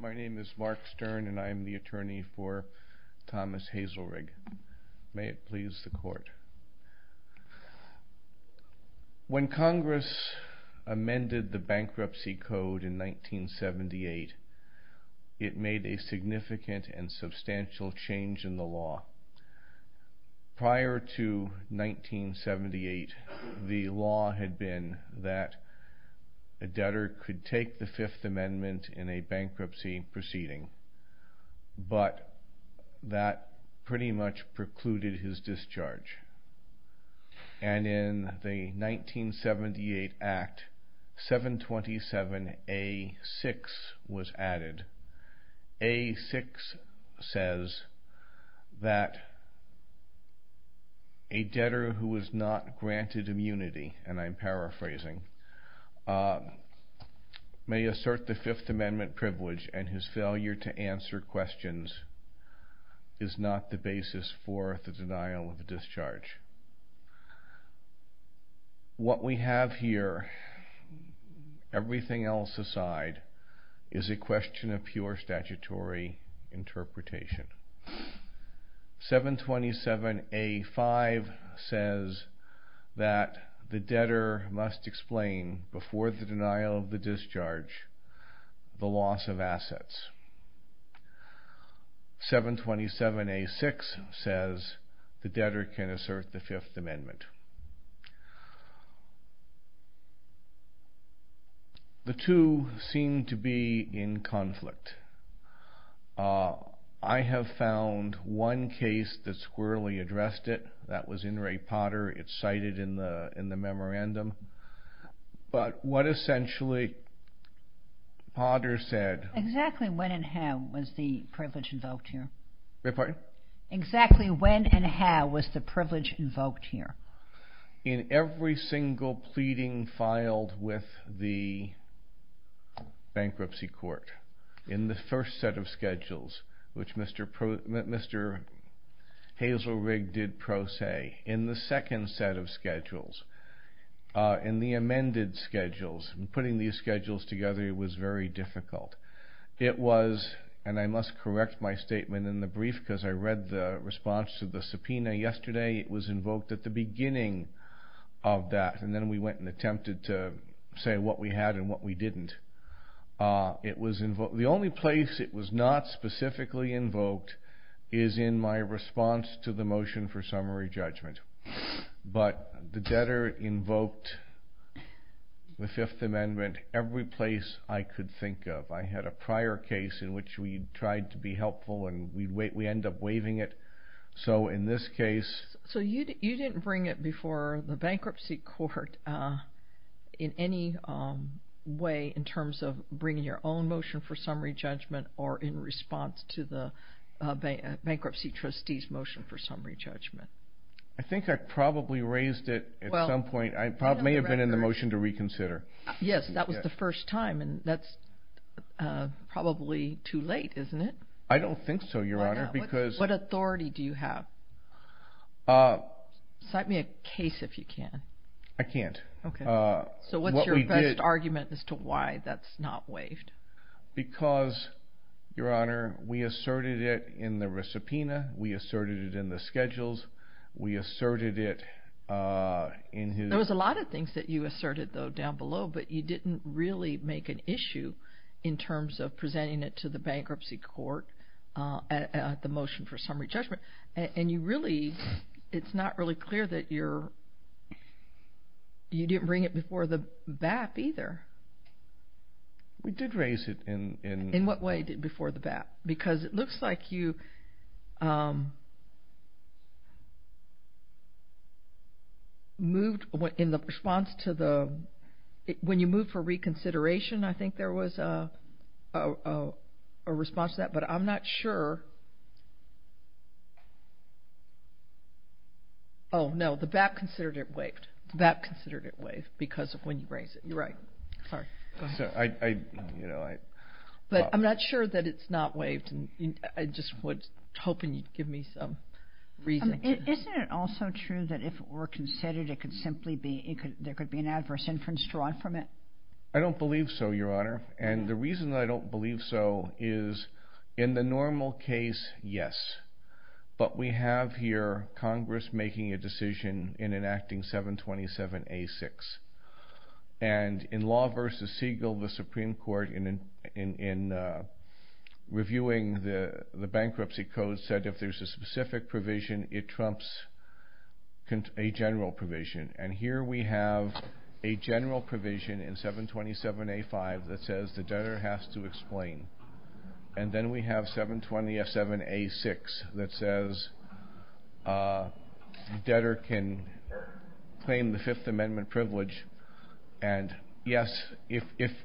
My name is Mark Stern and I am the attorney for Thomas Hazelrigg. May it please the Court. When Congress amended the Bankruptcy Code in 1978, it made a significant and substantial change in the law. Prior to 1978, the law had been that a debtor could take the Fifth Amendment in a bankruptcy proceeding, but that pretty much precluded his discharge. And in the 1978 Act, 727A6 was added. A6 says that a debtor who is not granted immunity, and I am paraphrasing, may assert the Fifth Amendment privilege and his failure to answer questions is not the basis for the denial of discharge. What we have here, everything else aside, is a question of pure statutory interpretation. 727A5 says that the debtor must explain, before the denial of discharge, the loss of assets. 727A6 says the debtor can assert the Fifth Amendment. The two seem to be in conflict. I have found one case that squarely addressed it. That was in Ray Potter. It's cited in the memorandum. Exactly when and how was the privilege invoked here? In every single pleading filed with the Bankruptcy Court. In the first set of schedules, which Mr. Hazelrigg did pro se. In the second set of schedules, in the amended schedules, putting these schedules together was very difficult. It was, and I must correct my statement in the brief, because I read the response to the subpoena yesterday. It was invoked at the beginning of that, and then we went and attempted to say what we had and what we didn't. The only place it was not specifically invoked is in my response to the motion for summary judgment. But the debtor invoked the Fifth Amendment every place I could think of. I had a prior case in which we tried to be helpful, and we ended up waiving it. So in this case... So you didn't bring it before the Bankruptcy Court in any way in terms of bringing your own motion for summary judgment, or in response to the Bankruptcy Trustees motion for summary judgment? I think I probably raised it at some point. I may have been in the motion to reconsider. Yes, that was the first time, and that's probably too late, isn't it? I don't think so, Your Honor, because... What authority do you have? Cite me a case if you can. I can't. So what's your best argument as to why that's not waived? Because, Your Honor, we asserted it in the recipina, we asserted it in the schedules, we asserted it in his... There was a lot of things that you asserted, though, down below, but you didn't really make an issue in terms of presenting it to the Bankruptcy Court at the motion for summary judgment. And you really... it's not really clear that you're... you didn't bring it before the BAP either. We did raise it in... In what way before the BAP? Because it looks like you moved in the response to the... When you moved for reconsideration, I think there was a response to that, but I'm not sure. Oh, no, the BAP considered it waived. The BAP considered it waived because of when you raised it. You're right. Sorry. Go ahead. I... But I'm not sure that it's not waived. I just was hoping you'd give me some reason. Isn't it also true that if it were considered, it could simply be... there could be an adverse inference drawn from it? I don't believe so, Your Honor. And the reason I don't believe so is, in the normal case, yes. But we have here Congress making a decision in enacting 727A6. And in Law v. Siegel, the Supreme Court, in reviewing the Bankruptcy Code, said if there's a specific provision, it trumps a general provision. And here we have a general provision in 727A5 that says the debtor has to explain. And then we have 720F7A6 that says debtor can claim the Fifth Amendment privilege. And, yes, if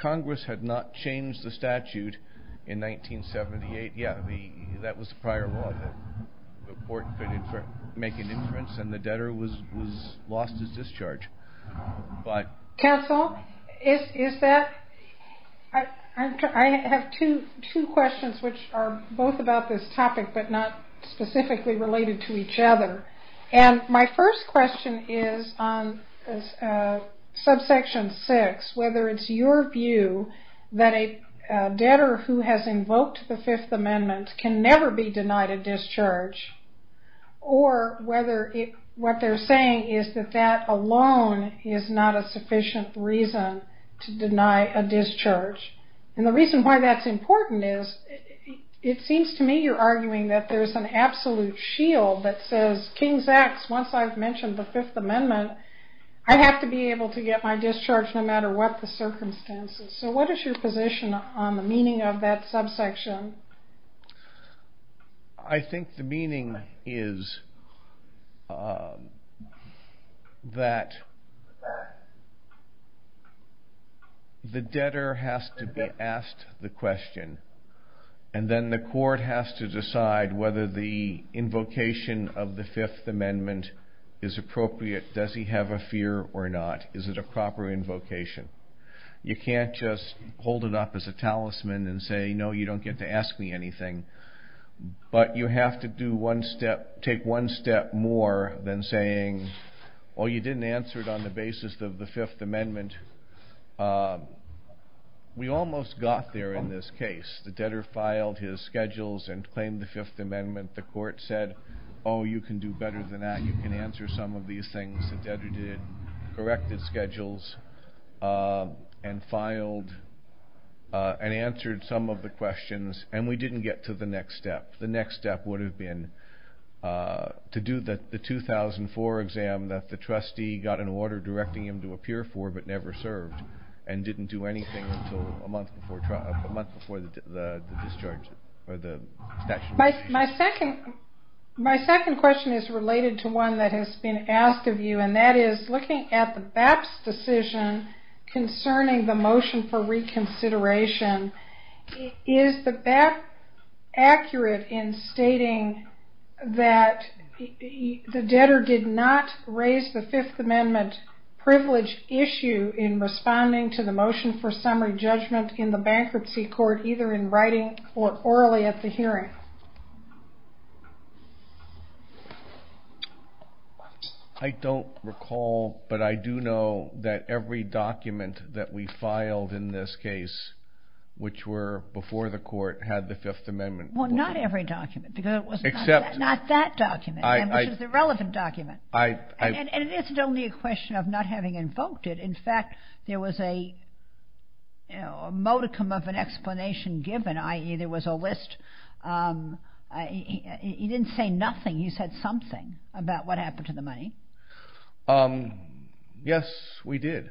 Congress had not changed the statute in 1978, yeah, that was prior law. The court could make an inference and the debtor was lost his discharge. Counsel, is that... I have two questions which are both about this topic but not specifically related to each other. And my first question is on subsection 6, whether it's your view that a debtor who has invoked the Fifth Amendment can never be denied a discharge, or whether what they're saying is that that alone is not a sufficient reason to deny a discharge. And the reason why that's important is, it seems to me you're arguing that there's an absolute shield that says, King's Acts, once I've mentioned the Fifth Amendment, I have to be able to get my discharge no matter what the circumstances. So what is your position on the meaning of that subsection? I think the meaning is that the debtor has to be asked the question, and then the court has to decide whether the invocation of the Fifth Amendment is appropriate. Does he have a fear or not? Is it a proper invocation? You can't just hold it up as a talisman and say, no, you don't get to ask me anything. But you have to take one step more than saying, well, you didn't answer it on the basis of the Fifth Amendment. We almost got there in this case. The debtor filed his schedules and claimed the Fifth Amendment. The court said, oh, you can do better than that. You can answer some of these things. The debtor corrected schedules and filed and answered some of the questions, and we didn't get to the next step. The next step would have been to do the 2004 exam that the trustee got an order directing him to appear for but never served and didn't do anything until a month before the statute was issued. My second question is related to one that has been asked of you, and that is looking at the BAP's decision concerning the motion for reconsideration, is the BAP accurate in stating that the debtor did not raise the Fifth Amendment privilege issue in responding to the motion for summary judgment in the bankruptcy court, either in writing or orally at the hearing? I don't recall, but I do know that every document that we filed in this case, which were before the court, had the Fifth Amendment. Well, not every document, because it was not that document, which is the relevant document. And it isn't only a question of not having invoked it. In fact, there was a modicum of an explanation given, i.e., there was a list. He didn't say nothing. He said something about what happened to the money. Yes, we did.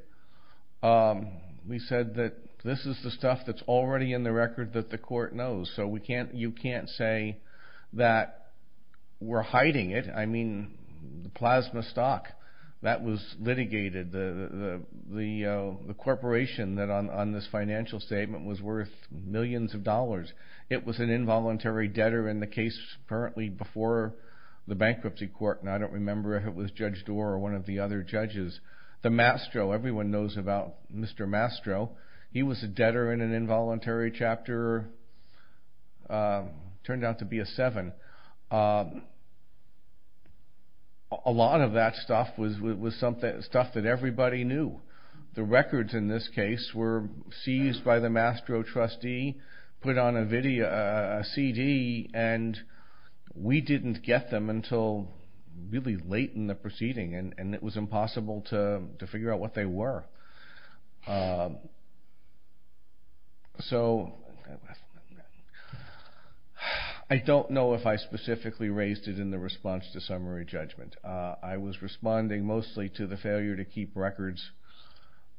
We said that this is the stuff that's already in the record that the court knows, so you can't say that we're hiding it. I mean, the plasma stock, that was litigated. The corporation on this financial statement was worth millions of dollars. It was an involuntary debtor in the case currently before the bankruptcy court, and I don't remember if it was Judge Doar or one of the other judges. The Mastro, everyone knows about Mr. Mastro. He was a debtor in an involuntary chapter, turned out to be a seven. A lot of that stuff was stuff that everybody knew. The records in this case were seized by the Mastro trustee, put on a CD, and we didn't get them until really late in the proceeding, and it was impossible to figure out what they were. So I don't know if I specifically raised it in the response to summary judgment. I was responding mostly to the failure to keep records,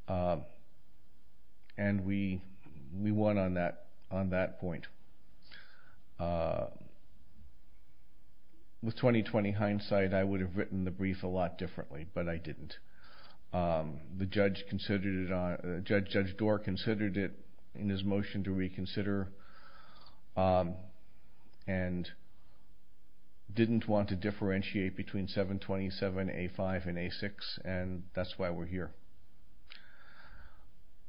and we won on that point. With 20-20 hindsight, I would have written the brief a lot differently, but I didn't. Judge Doar considered it in his motion to reconsider and didn't want to differentiate between 727A5 and A6, and that's why we're here.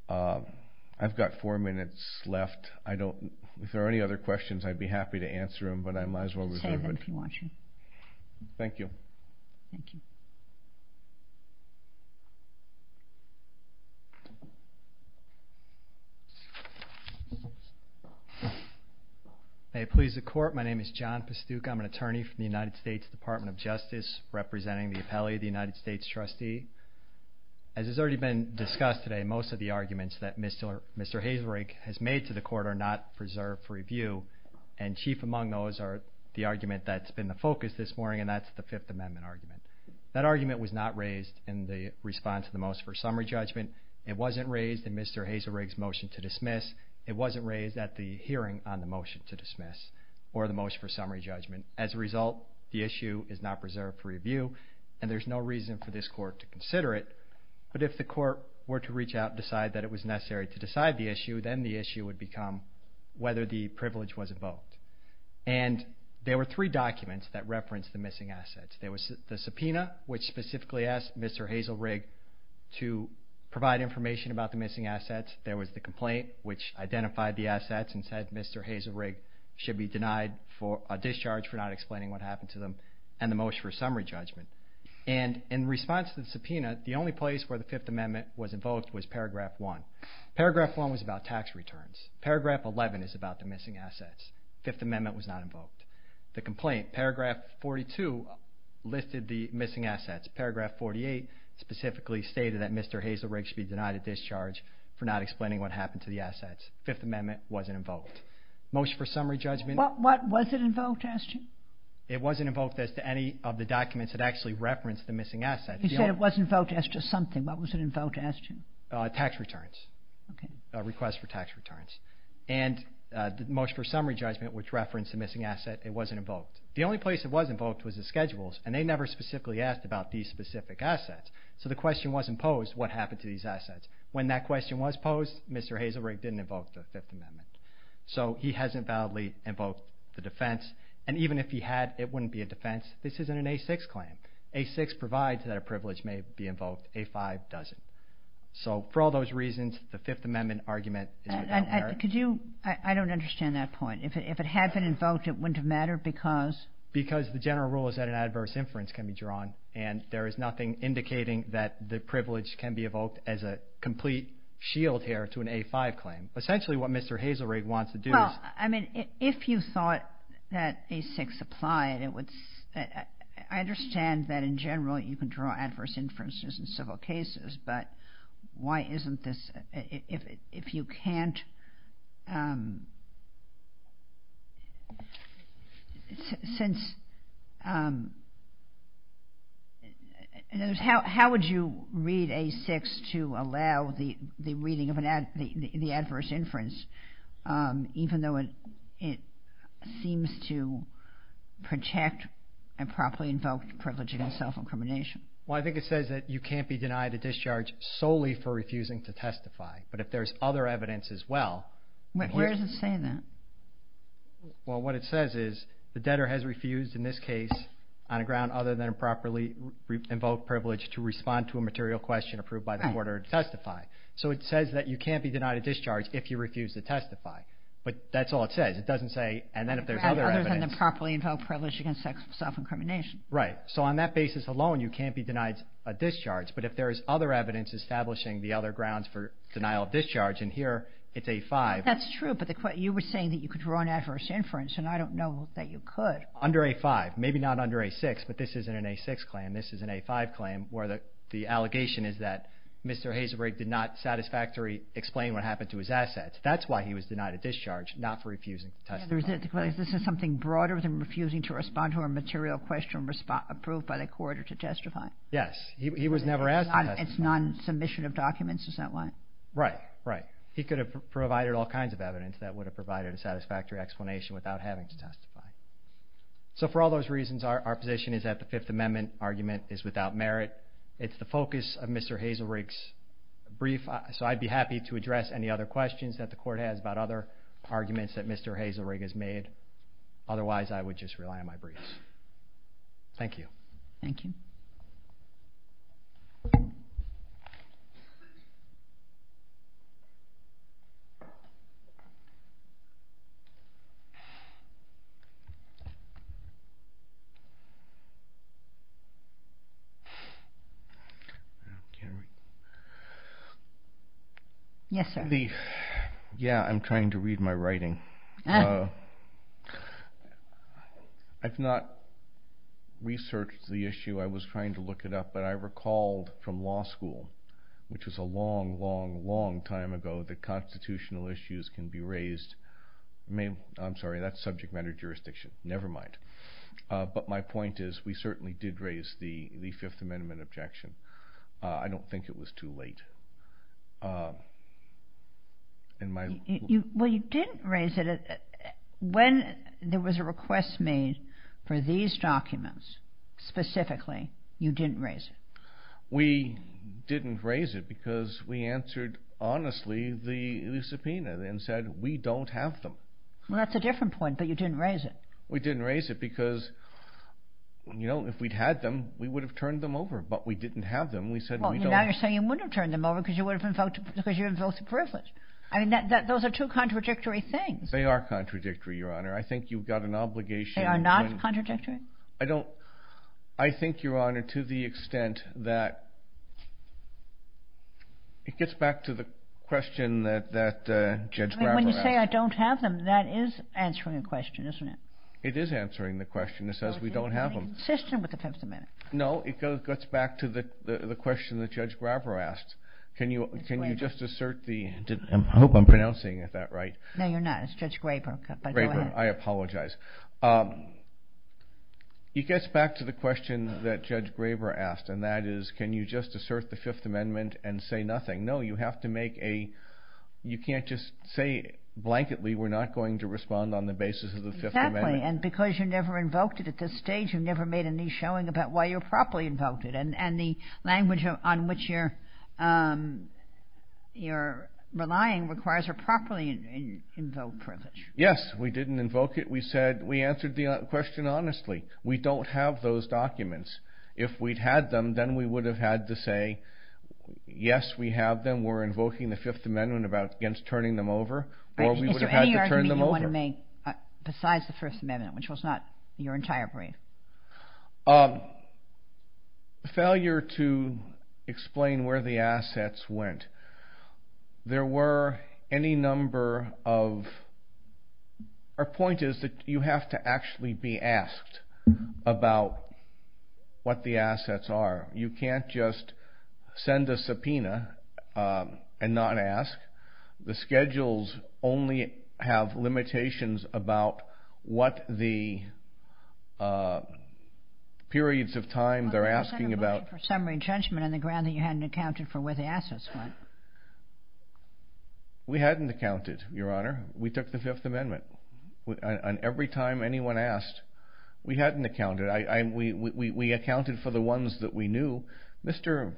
I've got four minutes left. If there are any other questions, I'd be happy to answer them, but I might as well reserve it. Thank you. May it please the Court. My name is John Pastuca. I'm an attorney for the United States Department of Justice, representing the appellee, the United States trustee. As has already been discussed today, most of the arguments that Mr. Hazelrig has made to the Court are not preserved for review, and chief among those are the argument that's been the focus this morning, and that's the Fifth Amendment argument. That argument was not raised in the response to the motion for summary judgment. It wasn't raised in Mr. Hazelrig's motion to dismiss. It wasn't raised at the hearing on the motion to dismiss or the motion for summary judgment. As a result, the issue is not preserved for review, and there's no reason for this Court to consider it. But if the Court were to reach out and decide that it was necessary to decide the issue, then the issue would become whether the privilege was invoked. And there were three documents that referenced the missing assets. There was the subpoena, which specifically asked Mr. Hazelrig to provide information about the missing assets. There was the complaint, which identified the assets and said Mr. Hazelrig should be denied a discharge for not explaining what happened to them, and the motion for summary judgment. And in response to the subpoena, the only place where the Fifth Amendment was invoked was Paragraph 1. Paragraph 1 was about tax returns. Paragraph 11 is about the missing assets. Fifth Amendment was not invoked. The complaint, Paragraph 42, listed the missing assets. Paragraph 48 specifically stated that Mr. Hazelrig should be denied a discharge for not explaining what happened to the assets. Fifth Amendment wasn't invoked. Motion for summary judgment. What was it invoked as to? It wasn't invoked as to any of the documents that actually referenced the missing assets. You said it wasn't invoked as to something. What was it invoked as to? Tax returns. Okay. A request for tax returns. And the motion for summary judgment, which referenced the missing asset, it wasn't invoked. The only place it was invoked was the schedules, and they never specifically asked about these specific assets. So the question wasn't posed, what happened to these assets? When that question was posed, Mr. Hazelrig didn't invoke the Fifth Amendment. So he hasn't validly invoked the defense. And even if he had, it wouldn't be a defense. This isn't an A6 claim. A6 provides that a privilege may be invoked. A5 doesn't. So for all those reasons, the Fifth Amendment argument is without merit. I don't understand that point. If it had been invoked, it wouldn't have mattered because? Because the general rule is that an adverse inference can be drawn, and there is nothing indicating that the privilege can be evoked as a complete shield here to an A5 claim. Essentially what Mr. Hazelrig wants to do is – Well, I mean, if you thought that A6 applied, it would – I understand that in general you can draw adverse inferences in civil cases, but why isn't this – if you can't – since – how would you read A6 to allow the reading of the adverse inference, even though it seems to protect improperly invoked privilege against self-incrimination? Well, I think it says that you can't be denied a discharge solely for refusing to testify. But if there's other evidence as well – Where does it say that? Well, what it says is the debtor has refused in this case on a ground other than improperly invoked privilege to respond to a material question approved by the court or to testify. So it says that you can't be denied a discharge if you refuse to testify. But that's all it says. It doesn't say – and then if there's other evidence – Other than the properly invoked privilege against self-incrimination. Right. So on that basis alone, you can't be denied a discharge. But if there is other evidence establishing the other grounds for denial of discharge, and here it's A5 – That's true, but you were saying that you could draw an adverse inference, and I don't know that you could. Under A5. Maybe not under A6, but this isn't an A6 claim. This is an A5 claim where the allegation is that Mr. Hazelbrake did not satisfactorily explain what happened to his assets. That's why he was denied a discharge, not for refusing to testify. This is something broader than refusing to respond to a material question approved by the court or to testify. Yes, he was never asked to testify. It's non-submission of documents, is that why? Right, right. He could have provided all kinds of evidence that would have provided a satisfactory explanation without having to testify. So for all those reasons, our position is that the Fifth Amendment argument is without merit. It's the focus of Mr. Hazelbrake's brief, so I'd be happy to address any other questions that the court has about other arguments that Mr. Hazelbrake has made. Otherwise, I would just rely on my briefs. Thank you. Thank you. Yes, sir. Yeah, I'm trying to read my writing. I've not researched the issue. I was trying to look it up, but I recalled from law school, which was a long, long, long time ago, that constitutional issues can be raised. I'm sorry, that's subject matter jurisdiction. Never mind. But my point is we certainly did raise the Fifth Amendment objection. I don't think it was too late. Well, you didn't raise it. When there was a request made for these documents specifically, you didn't raise it. We didn't raise it because we answered honestly the subpoena and said we don't have them. Well, that's a different point, but you didn't raise it. We didn't raise it because, you know, if we'd had them, we would have turned them over. But we didn't have them. Now you're saying you wouldn't have turned them over because you would have invoked the privilege. I mean, those are two contradictory things. They are contradictory, Your Honor. I think you've got an obligation. They are not contradictory? I don't. I think, Your Honor, to the extent that it gets back to the question that Judge Graber asked. When you say I don't have them, that is answering the question, isn't it? It is answering the question. It says we don't have them. You're insisting with the Fifth Amendment. No, it gets back to the question that Judge Graber asked. Can you just assert the—I hope I'm pronouncing that right. No, you're not. It's Judge Graber. Graber, I apologize. It gets back to the question that Judge Graber asked, and that is can you just assert the Fifth Amendment and say nothing? No, you have to make a—you can't just say blanketly we're not going to respond on the basis of the Fifth Amendment. Exactly, and because you never invoked it at this stage, you've never made any showing about why you properly invoked it. And the language on which you're relying requires a properly invoked privilege. Yes, we didn't invoke it. We said—we answered the question honestly. We don't have those documents. If we'd had them, then we would have had to say yes, we have them. We're invoking the Fifth Amendment against turning them over, or we would have had to turn them over. Is there any argument you want to make besides the First Amendment, which was not your entire brief? Failure to explain where the assets went. There were any number of—our point is that you have to actually be asked about what the assets are. You can't just send a subpoena and not ask. The schedules only have limitations about what the periods of time they're asking about. You accounted for summary judgment on the ground that you hadn't accounted for where the assets went. We hadn't accounted, Your Honor. We took the Fifth Amendment, and every time anyone asked, we hadn't accounted. We accounted for the ones that we knew. Mr.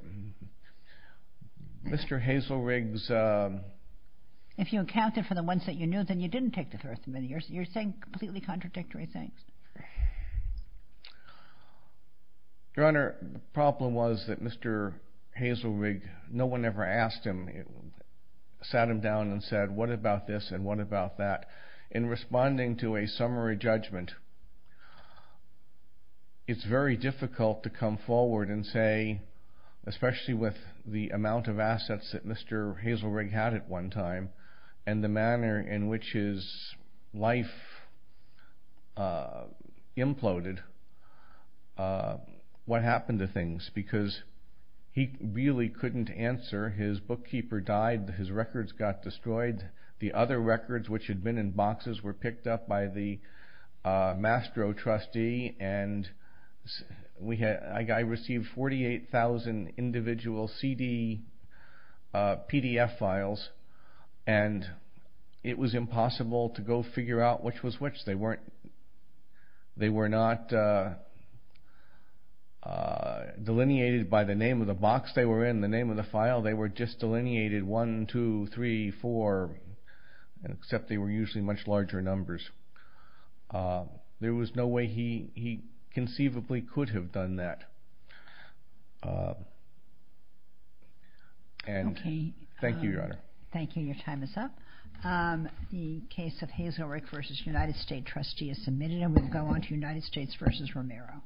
Hazelrig's— If you accounted for the ones that you knew, then you didn't take the Third Amendment. You're saying completely contradictory things. Your Honor, the problem was that Mr. Hazelrig, no one ever asked him, sat him down and said, what about this and what about that? In responding to a summary judgment, it's very difficult to come forward and say, especially with the amount of assets that Mr. Hazelrig had at one time and the manner in which his life imploded, what happened to things? Because he really couldn't answer. His bookkeeper died. His records got destroyed. The other records, which had been in boxes, were picked up by the Mastro trustee. I received 48,000 individual CD PDF files, and it was impossible to go figure out which was which. They were not delineated by the name of the box they were in, the name of the file. They were just delineated 1, 2, 3, 4, except they were usually much larger numbers. There was no way he conceivably could have done that. Thank you, Your Honor. Thank you. Your time is up. The case of Hazelrig v. United States trustee is submitted, and we'll go on to United States v. Romero.